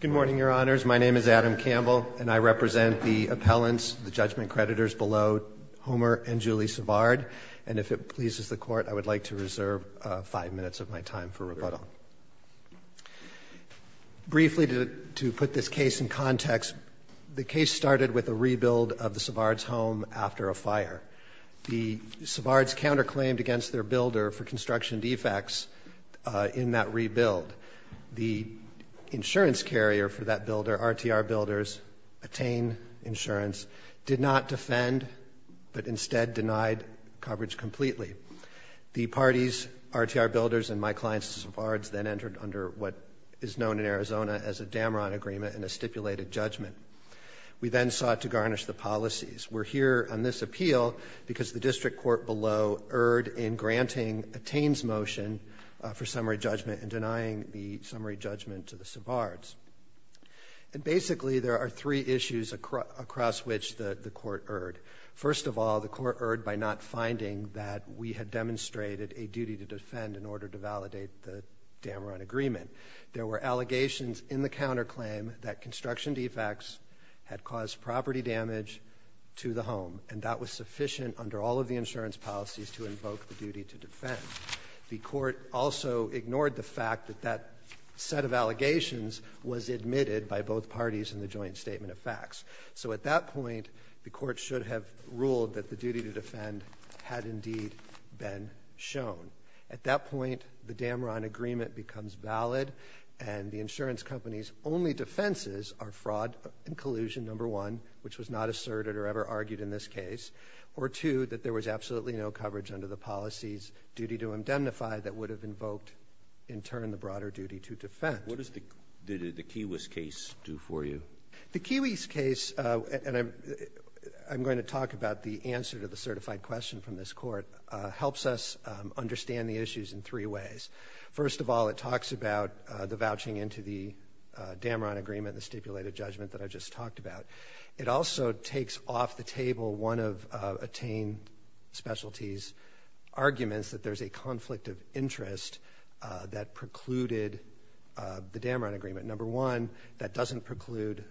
Good morning, Your Honors. My name is Adam Campbell, and I represent the appellants, the judgment creditors below Homer and Julie Savard, and if it pleases the Court, I would like to reserve five minutes of my time for rebuttal. Briefly, to put this case in context, the case started with a rebuild of the Savard's home after a fire. The Savards counterclaimed against their builder for construction defects in that rebuild. The insurance carrier for that builder, RTR Builders, Atain Insurance, did not defend but instead denied coverage completely. The parties, RTR Builders and my clients, Savards, then entered under what is known in Arizona as a Dameron Agreement and a stipulated judgment. We then sought to garnish the policies. We're here on this appeal because the district court below erred in granting Atain's motion for summary judgment and denying the summary judgment to the Savards. And basically, there are three issues across which the court erred. First of all, the court erred by not finding that we had demonstrated a duty to defend in order to validate the Dameron Agreement. There were allegations in the counterclaim that construction defects had caused property damage to the home, and that was sufficient under all of the insurance policies to invoke the duty to defend. The court also ignored the fact that that set of allegations was admitted by both parties in the joint statement of facts. So at that point, the court should have ruled that the duty to defend had indeed been shown. At that point, the Dameron Agreement becomes valid and the insurance company's only defenses are fraud and collusion, number one, which was not asserted or ever argued in this case, or two, that there was absolutely no coverage under the policies duty to indemnify that would have invoked, in turn, the broader duty to defend. What does the Kiwis case do for you? The Kiwis case, and I'm going to talk about the answer to the certified question from this court, helps us understand the issues in three ways. First of all, it talks about the vouching into the Dameron Agreement, the stipulated judgment that I just talked about. It also takes off the table one of Attain Specialty's arguments that there's a conflict of interest that precluded the Dameron Agreement. Number one, that doesn't preclude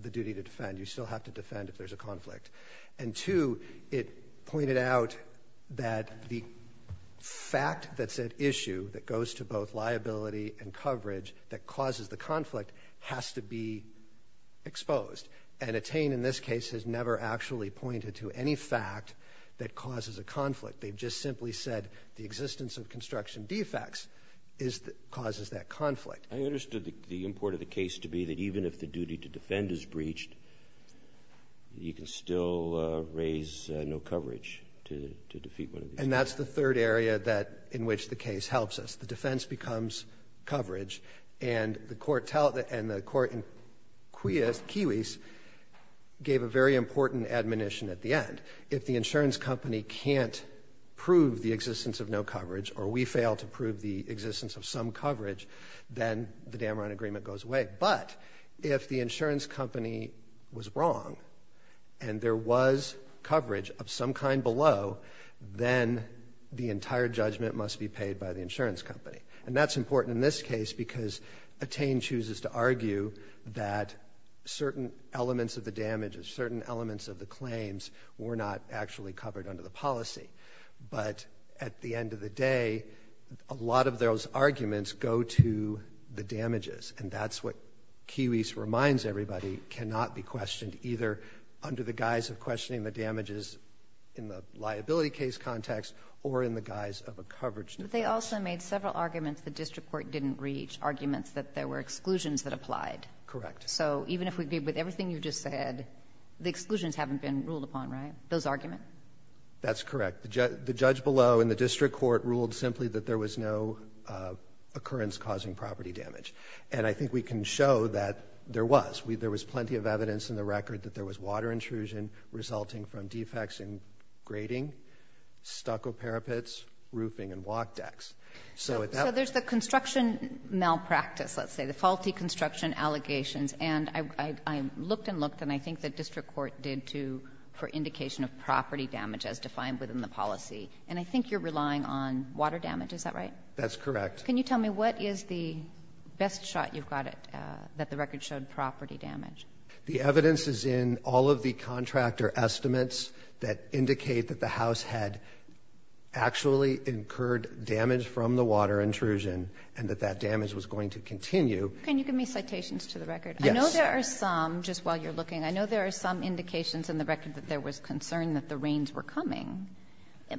the duty to defend. You still have to defend if there's a conflict. And two, it pointed out that the fact that said issue that goes to both liability and coverage that causes the conflict has to be exposed. And Attain, in this case, has never actually pointed to any fact that causes a conflict. They've just simply said the existence of construction defects causes that conflict. I understood the import of the case to be that even if the duty to defend is breached, you can still raise no coverage to defeat one of these. And that's the third area that in which the case helps us. The defense becomes coverage, and the court in Kiwis gave a very important admonition at the end. If the insurance company can't prove the existence of no coverage or we fail to prove the existence of some coverage, then the Dameron Agreement goes away. But if the insurance company was wrong and there was coverage of some kind below, then the entire judgment must be paid by the insurance company. And that's important in this case because Attain chooses to argue that certain elements of the damages, certain elements of the claims were not actually covered under the policy. But at the end of the day, a lot of those arguments go to the damages. And that's what Kiwis reminds everybody cannot be questioned either under the guise of questioning the damages in the liability case context or in the guise of a coverage defense. But they also made several arguments the district court didn't reach, arguments that there were exclusions that applied. Correct. So even if we agree with everything you just said, the exclusions haven't been ruled upon, right? Those arguments? That's correct. The judge below in the district court ruled simply that there was no occurrence causing property damage. And I think we can show that there was. There was plenty of evidence in the record that there was water intrusion resulting from defects in grading, stucco parapets, roofing and walk decks. So there's the construction malpractice, let's say, the faulty construction allegations. And I looked and looked and I think the district court did too for indication of property damage as defined within the policy. And I think you're relying on water damage. Is that right? That's correct. Can you tell me what is the best shot you've got at that? The record showed property damage. The evidence is in all of the contractor estimates that indicate that the house had actually incurred damage from the water intrusion and that that damage was going to continue. Can you give me citations to the record? I know there are some just while you're looking. I know there are some indications in the record that there was concern that the rains were coming.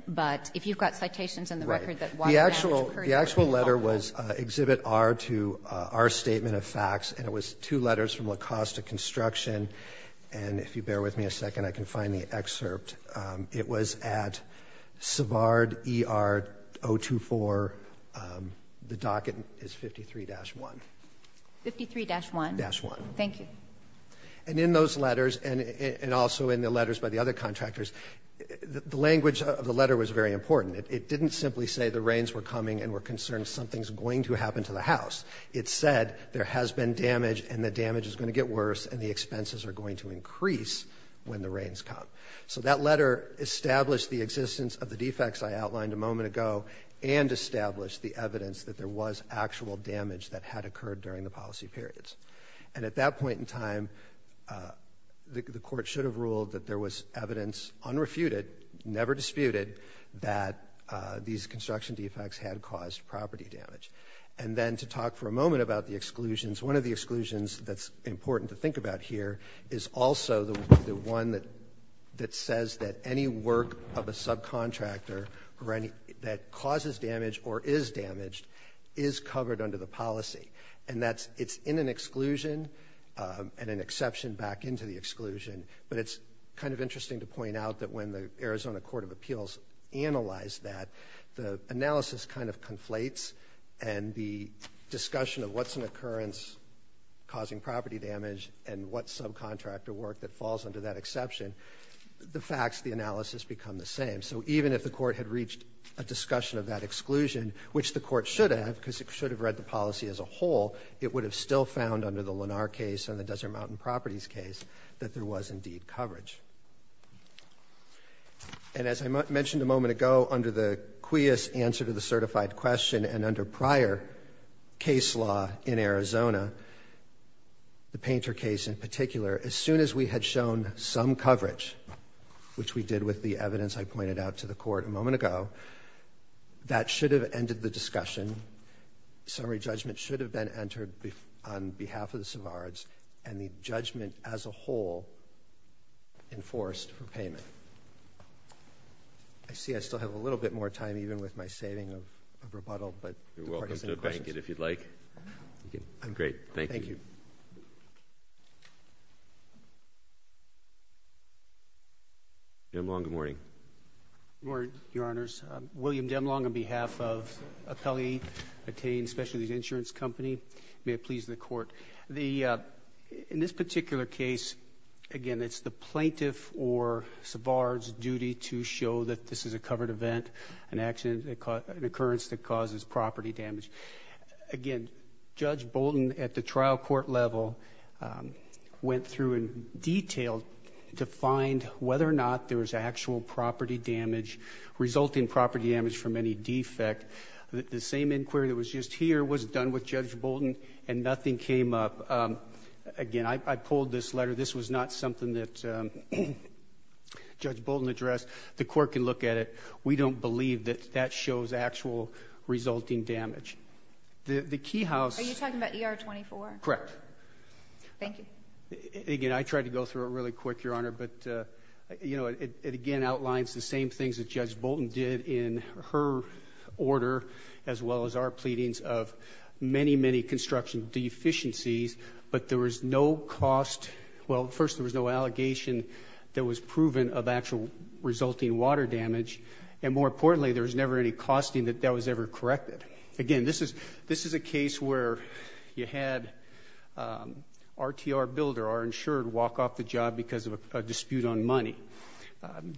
But if you've got citations in the record that water damage occurred, that would be helpful. The actual letter was Exhibit R to our statement of facts. And it was two letters from La Costa Construction. And if you bear with me a second, I can find the excerpt. It was at Savard ER 024. The docket is 53-1. 53-1? 53-1. Thank you. And in those letters and also in the letters by the other contractors, the language of the letter was very important. It didn't simply say the rains were coming and were concerned something's going to happen to the house. It said there has been damage and the damage is going to get worse and the expenses are going to increase when the rains come. So that letter established the existence of the defects I outlined a moment ago and established the evidence that there was actual damage that had occurred during the policy periods. And at that point in time, the court should have ruled that there was evidence unrefuted, never disputed, that these construction defects had caused property damage. And then to talk for a moment about the exclusions, one of the exclusions that's important to think about here is also the one that says that any work of a subcontractor that causes damage or is damaged is covered under the policy. And that's it's in an exclusion and an exception back into the exclusion. But it's kind of interesting to point out that when the Arizona Court of Appeals analyzed that, the analysis kind of conflates. And the discussion of what's an occurrence causing property damage and what subcontractor work that falls under that exception, the facts, the analysis become the same. So even if the court had reached a discussion of that exclusion, which the court should have, because it should have read the policy as a whole, it would have still found under the Lenar case and the Desert Mountain Properties case that there was indeed coverage. And as I mentioned a moment ago, under the QIAS answer to the certified question and under prior case law in Arizona, the Painter case in particular, as soon as we had shown some coverage, which we did with the evidence I pointed out to the court a moment ago, that should have ended the discussion. Summary judgment should have been entered on behalf of the Savards, and the judgment as a whole enforced for payment. I see I still have a little bit more time even with my saving of rebuttal, but the court has some questions. If you'd like, great, thank you. Demlong, good morning. Good morning, your honors. William Demlong on behalf of Appellee Attains Specialty Insurance Company. May it please the court. In this particular case, again, it's the plaintiff or Savard's duty to show that this is a covered event, an occurrence that causes property damage. Again, Judge Bolton at the trial court level went through and detailed to find whether or not there was actual property damage, resulting property damage from any defect. The same inquiry that was just here was done with Judge Bolton and nothing came up. Again, I pulled this letter. This was not something that Judge Bolton addressed. The court can look at it. We don't believe that that shows actual resulting damage. The key house- Are you talking about ER 24? Correct. Thank you. Again, I tried to go through it really quick, your honor, but it again outlines the same things that Judge Bolton did in her order, as well as our pleadings of many, many construction deficiencies, but there was no cost. Well, first, there was no allegation that was proven of actual resulting water damage. And more importantly, there was never any costing that that was ever corrected. Again, this is a case where you had RTR Builder, our insured, walk off the job because of a dispute on money.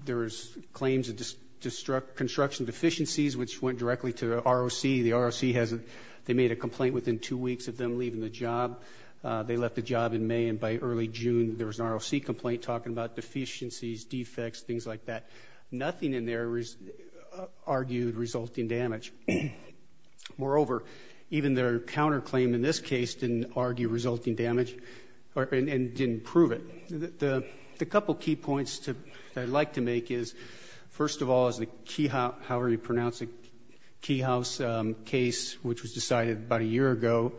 There's claims of construction deficiencies, which went directly to the ROC. The ROC, they made a complaint within two weeks of them leaving the job. They left the job in May, and by early June, there was an ROC complaint talking about deficiencies, defects, things like that. Nothing in there argued resulting damage. Moreover, even their counterclaim in this case didn't argue resulting damage and didn't prove it. The couple key points that I'd like to make is, first of all, as the key house, however you pronounce it, key house case, which was decided about a year ago,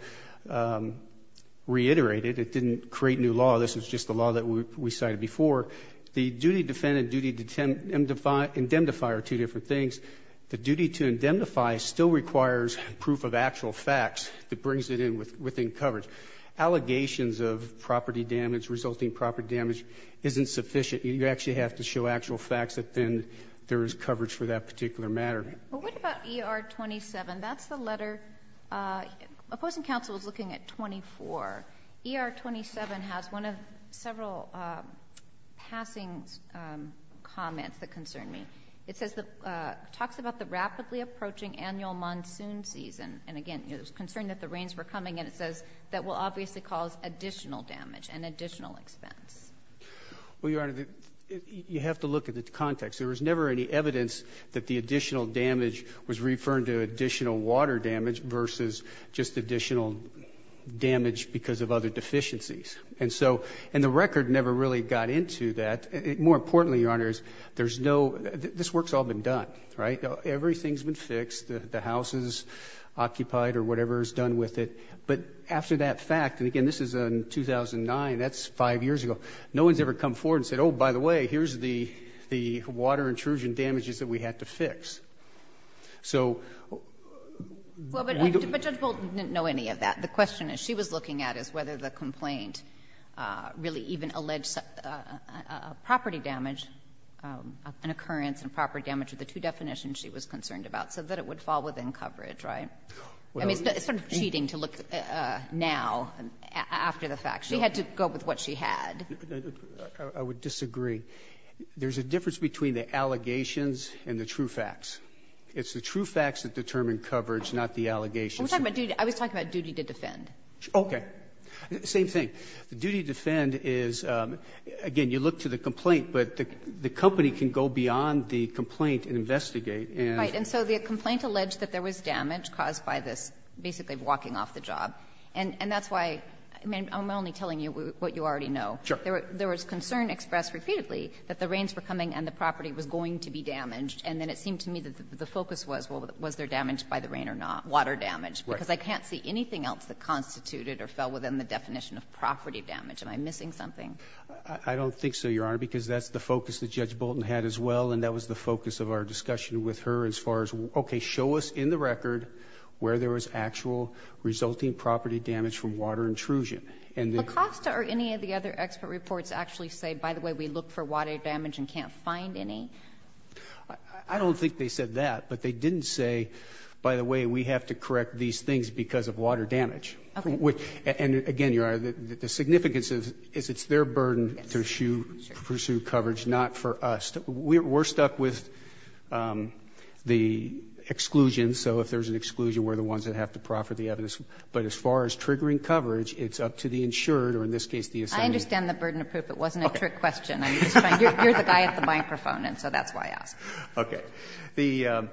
reiterated. It didn't create new law. This was just the law that we cited before. The duty to defend and duty to indemnify are two different things. The duty to indemnify still requires proof of actual facts that brings it in within coverage. Allegations of property damage, resulting property damage, isn't sufficient. You actually have to show actual facts that then there is coverage for that particular matter. But what about ER 27? That's the letter, opposing counsel is looking at 24. ER 27 has one of several passing comments that concern me. It says, talks about the rapidly approaching annual monsoon season. And again, it was concerned that the rains were coming, and it says that will obviously cause additional damage and additional expense. Well, Your Honor, you have to look at the context. There was never any evidence that the additional damage was referring to additional water damage versus just additional damage because of other deficiencies. And so, and the record never really got into that. More importantly, Your Honor, there's no, this work's all been done, right? Everything's been fixed, the house is occupied or whatever is done with it. But after that fact, and again, this is in 2009, that's five years ago. No one's ever come forward and said, by the way, here's the water intrusion damages that we had to fix. So we don't- Well, but Judge Bolt didn't know any of that. The question is, she was looking at is whether the complaint really even alleged property damage, an occurrence and property damage are the two definitions she was concerned about, so that it would fall within coverage, right? I mean, it's sort of cheating to look now after the fact. She had to go with what she had. I would disagree. There's a difference between the allegations and the true facts. It's the true facts that determine coverage, not the allegations. I was talking about duty to defend. Okay. Same thing. The duty to defend is, again, you look to the complaint, but the company can go beyond the complaint and investigate and- Right. And so the complaint alleged that there was damage caused by this basically walking off the job. And that's why, I mean, I'm only telling you what you already know. Sure. There was concern expressed repeatedly that the rains were coming and the property was going to be damaged, and then it seemed to me that the focus was, well, was there damage by the rain or not, water damage, because I can't see anything else that constituted or fell within the definition of property damage. Am I missing something? I don't think so, Your Honor, because that's the focus that Judge Bolton had as well, and that was the focus of our discussion with her as far as, okay, show us in the record where there was actual resulting property damage from water intrusion. And the- Lacoste or any of the other expert reports actually say, by the way, we look for water damage and can't find any? I don't think they said that, but they didn't say, by the way, we have to correct these things because of water damage. Okay. And, again, Your Honor, the significance is it's their burden to pursue coverage, not for us. We're stuck with the exclusion, so if there's an exclusion, we're the ones that have to profit the evidence. But as far as triggering coverage, it's up to the insured or, in this case, the assembly. I understand the burden of proof. It wasn't a trick question. I'm just trying to hear the guy at the microphone, and so that's why I asked. Okay. The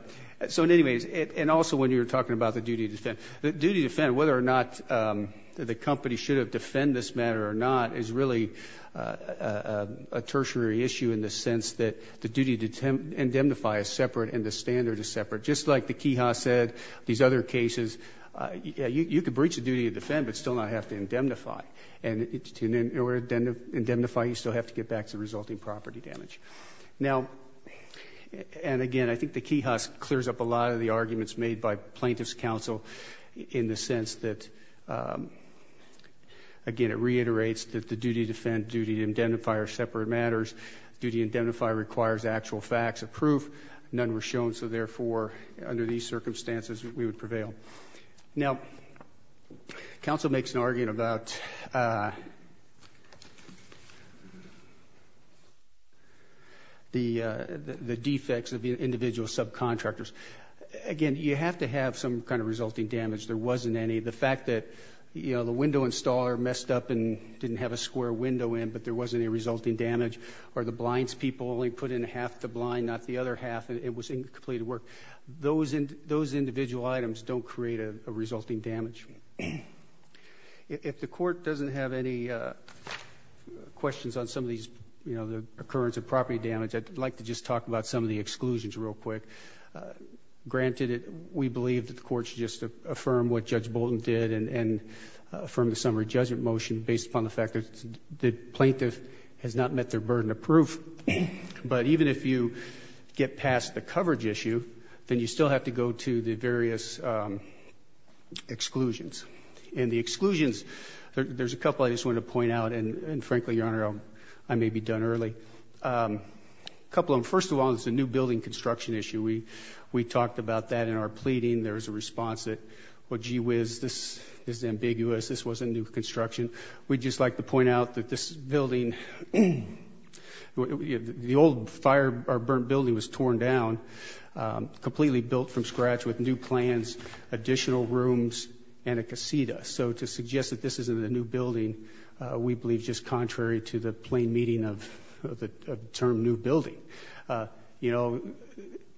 so in any case, and also when you were talking about the duty to defend, the duty to defend, whether or not the company should have defend this matter or not is really a tertiary issue in the sense that the duty to indemnify is separate and the standard is separate. Just like the key has said, these other cases, you could breach the duty to defend, but still not have to indemnify. And to indemnify, you still have to get back to the resulting property damage. Now, and again, I think the key has cleared up a lot of the arguments made by plaintiff's counsel in the sense that, again, it reiterates that the duty to defend, duty to indemnify are separate matters. Duty to indemnify requires actual facts of proof. None were shown, so therefore, under these circumstances, we would prevail. Now, counsel makes an argument about the defects of the individual subcontractors. Again, you have to have some kind of resulting damage. There wasn't any. The fact that the window installer messed up and didn't have a square window in, but there wasn't any resulting damage, or the blinds people only put in half the blind, not the other half. It was incomplete work. Those individual items don't create a resulting damage. If the court doesn't have any questions on some of these, you know, the occurrence of property damage, I'd like to just talk about some of the exclusions real quick. Granted, we believe that the court should just affirm what Judge Bolton did and affirm the summary judgment motion based upon the fact that the plaintiff has not met their burden of proof. But even if you get past the coverage issue, then you still have to go to the various exclusions. And the exclusions, there's a couple I just want to point out, and frankly, Your Honor, I may be done early. A couple of them. First of all, it's a new building construction issue. We talked about that in our pleading. There was a response that, well, gee whiz, this is ambiguous. This wasn't new construction. We'd just like to point out that this building, the old fire burned building was torn down, completely built from scratch with new plans, additional rooms, and a casita. So to suggest that this isn't a new building, we believe just contrary to the plain meaning of the term new building. You know,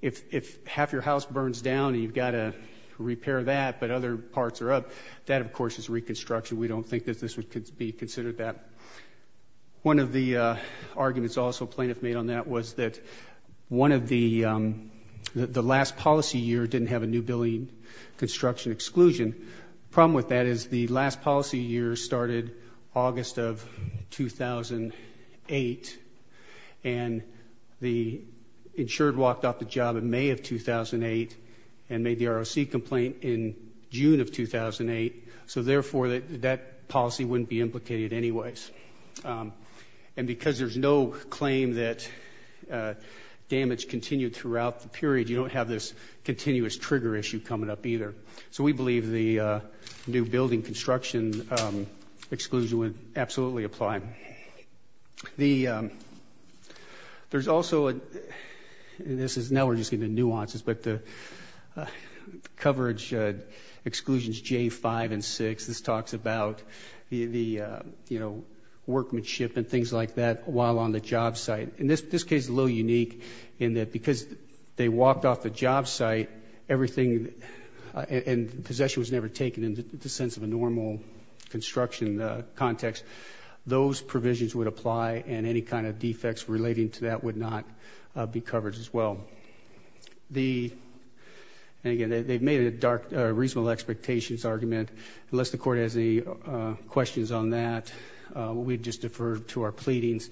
if half your house burns down and you've got to repair that but other parts are up, that of course is reconstruction. We don't think that this would be considered that. One of the arguments also plaintiff made on that was that one of the last policy year didn't have a new building construction exclusion. The problem with that is the last policy year started August of 2008 and the insured walked off the job in May of 2008 and made the ROC complaint in June of 2008. So therefore, that policy wouldn't be implicated anyways. And because there's no claim that damage continued throughout the period, you don't have this continuous trigger issue coming up either. So we believe the new building construction exclusion would absolutely apply. There's also, and this is, now we're just getting into nuances, but the coverage exclusions J-5 and 6, this talks about the, you know, workmanship and things like that while on the job site. In this case, it's a little unique in that because they walked off the job site, everything and possession was never taken in the sense of a normal construction context. Those provisions would apply and any kind of defects relating to that would not be covered as well. So, the, and again, they've made a reasonable expectations argument. Unless the court has any questions on that, we'd just defer to our pleadings.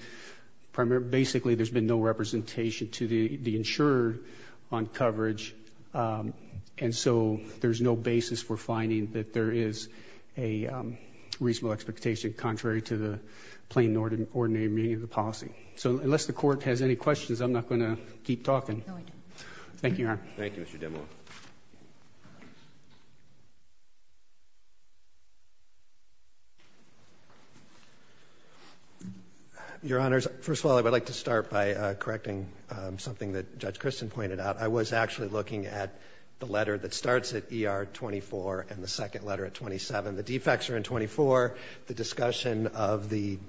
Basically there's been no representation to the insurer on coverage and so there's no basis for finding that there is a reasonable expectation contrary to the plain ordinary meaning of the policy. So, unless the court has any questions, I'm not going to keep talking. Thank you, Your Honor. Thank you, Mr. Demo. Your Honors, first of all, I would like to start by correcting something that Judge Christen pointed out. I was actually looking at the letter that starts at ER 24 and the second letter at 27. The defects are in 24. The discussion of the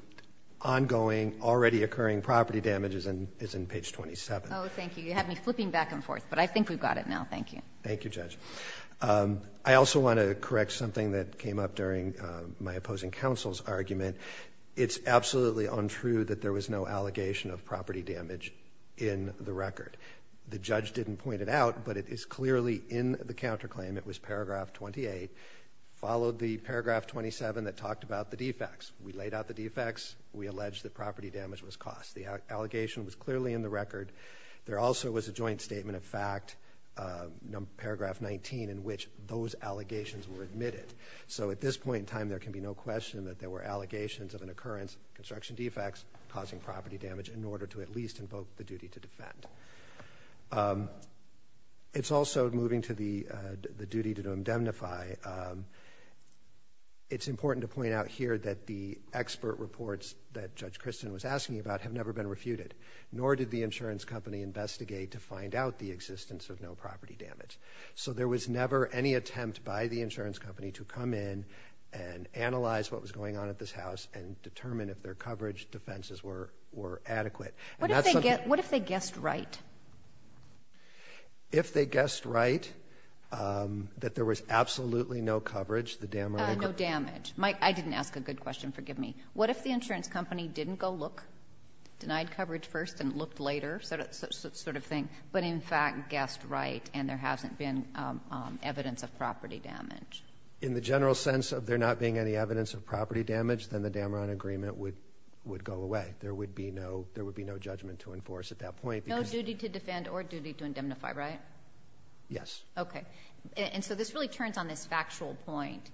ongoing, already occurring property damage is in page 27. Oh, thank you. You had me flipping back and forth, but I think we've got it now. Thank you. Thank you, Judge. I also want to correct something that came up during my opposing counsel's argument. It's absolutely untrue that there was no allegation of property damage in the record. The judge didn't point it out, but it is clearly in the counterclaim. It was paragraph 28, followed the paragraph 27 that talked about the defects. We laid out the defects. We alleged that property damage was caused. The allegation was clearly in the record. There also was a joint statement of fact, paragraph 19, in which those allegations were admitted. So, at this point in time, there can be no question that there were allegations of an occurrence, construction defects, causing property damage, in order to at least invoke the duty to defend. It's also moving to the duty to indemnify. It's important to point out here that the expert reports that Judge Christin was asking about have never been refuted, nor did the insurance company investigate to find out the existence of no property damage. So, there was never any attempt by the insurance company to come in and analyze what was going on at this house and determine if their coverage defenses were adequate. And that's something that's not going to be refuted. What if they guessed right? If they guessed right, that there was absolutely no coverage, the Damron agreement No damage. I didn't ask a good question. Forgive me. What if the insurance company didn't go look, denied coverage first and looked later sort of thing, but in fact guessed right and there hasn't been evidence of property damage? In the general sense of there not being any evidence of property damage, then the Damron agreement would go away. There would be no judgment to enforce at that point. No duty to defend or duty to indemnify, right? Yes. Okay. And so, this really turns on this factual point,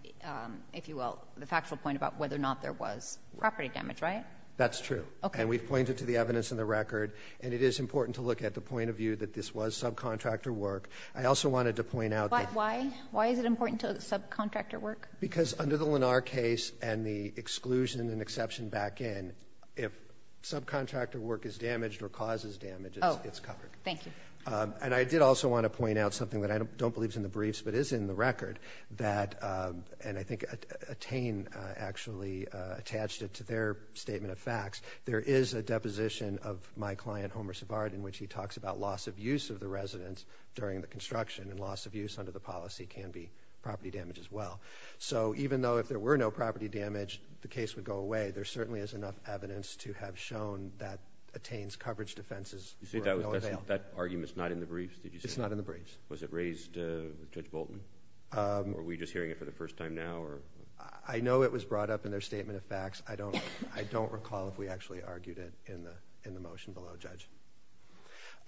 if you will, the factual point about whether or not there was property damage, right? That's true. Okay. And we've pointed to the evidence in the record. And it is important to look at the point of view that this was subcontractor work. I also wanted to point out that But why? Why is it important to subcontractor work? Because under the Lenar case and the exclusion and exception back end, if subcontractor work is damaged or causes damage, it's covered. Oh, thank you. And I did also want to point out something that I don't believe is in the briefs but is in the record that, and I think Attain actually attached it to their statement of facts, there is a deposition of my client, Homer Savard, in which he talks about loss of use of the residence during the construction and loss of use under the policy can be property damage as well. So even though if there were no property damage, the case would go away, there certainly is enough evidence to have shown that Attain's coverage defenses were no avail. That argument's not in the briefs, did you say? It's not in the briefs. Was it raised with Judge Bolton? Or are we just hearing it for the first time now? I know it was brought up in their statement of facts. I don't recall if we actually argued it in the motion below, Judge.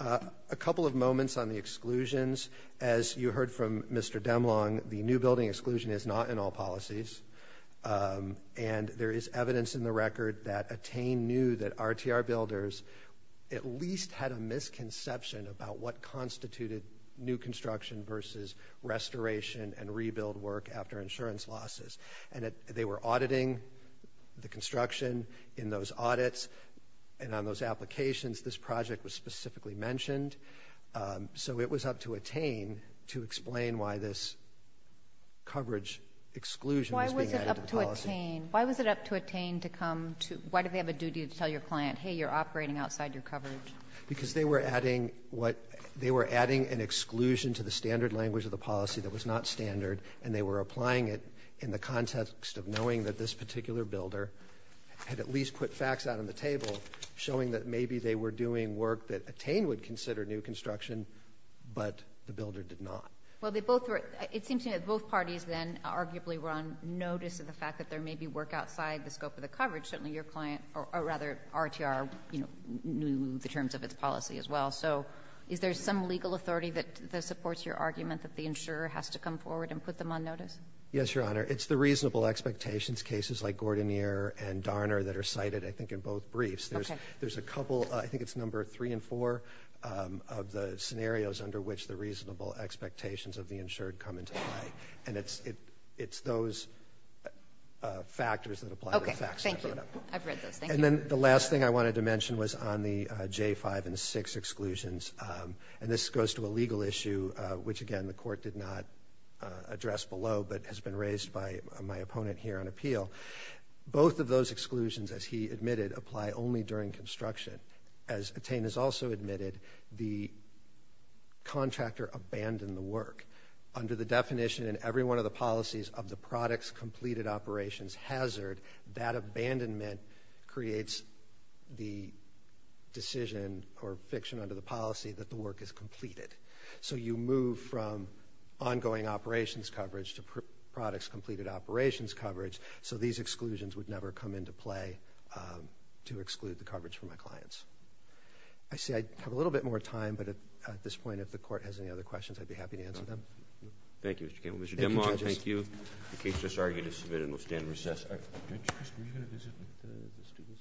A couple of moments on the exclusions. As you heard from Mr. Demlong, the new building exclusion is not in all policies. And there is evidence in the record that Attain knew that RTR builders at least had a misconception about what constituted new construction versus restoration and rebuild work after insurance losses. And they were auditing the construction in those audits and on those applications. This project was specifically mentioned. So it was up to Attain to explain why this coverage exclusion was being added to the policy. Why was it up to Attain to come to – why did they have a duty to tell your client, hey, you're operating outside your coverage? Because they were adding what – they were adding an exclusion to the standard language of the policy that was not standard, and they were applying it in the context of knowing that this particular builder had at least put facts out on the table showing that maybe they were doing work that Attain would consider new construction, but the builder did not. Well, they both were – it seems to me that both parties then arguably were on notice of the fact that there may be work outside the scope of the coverage. Certainly your client – or rather, RTR, you know, knew the terms of its policy as well. So is there some legal authority that supports your argument that the insurer has to come forward and put them on notice? Yes, Your Honor. It's the reasonable expectations cases like Gordoneer and Darner that are cited, I think, in both briefs. Okay. And there's a couple – I think it's number three and four of the scenarios under which the reasonable expectations of the insured come into play, and it's those factors that apply to the facts. Okay. Thank you. I've read those. Thank you. And then the last thing I wanted to mention was on the J-5 and 6 exclusions, and this goes to a legal issue which, again, the Court did not address below but has been raised by my opponent here on appeal. Both of those exclusions, as he admitted, apply only during construction. As Attain has also admitted, the contractor abandoned the work. Under the definition in every one of the policies of the products completed operations hazard, that abandonment creates the decision or fiction under the policy that the work is completed. So you move from ongoing operations coverage to products completed operations coverage, so these exclusions would never come into play to exclude the coverage for my clients. I see I have a little bit more time, but at this point, if the Court has any other questions, I'd be happy to answer them. Okay. Thank you, Mr. Campbell. Thank you, judges. Mr. Dimong, thank you. The case just argued is submitted and will stand in recess. Judge, were you going to visit the students?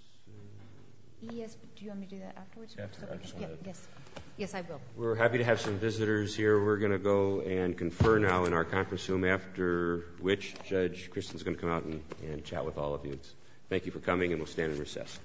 Yes, but do you want me to do that afterwards? After. I just wanted to. Yes. Yes, I will. We're happy to have some visitors here. We're going to go and confer now in our conference room, after which Judge Kristen is going to come out and chat with all of you. Thank you for coming, and we'll stand in recess. All rise.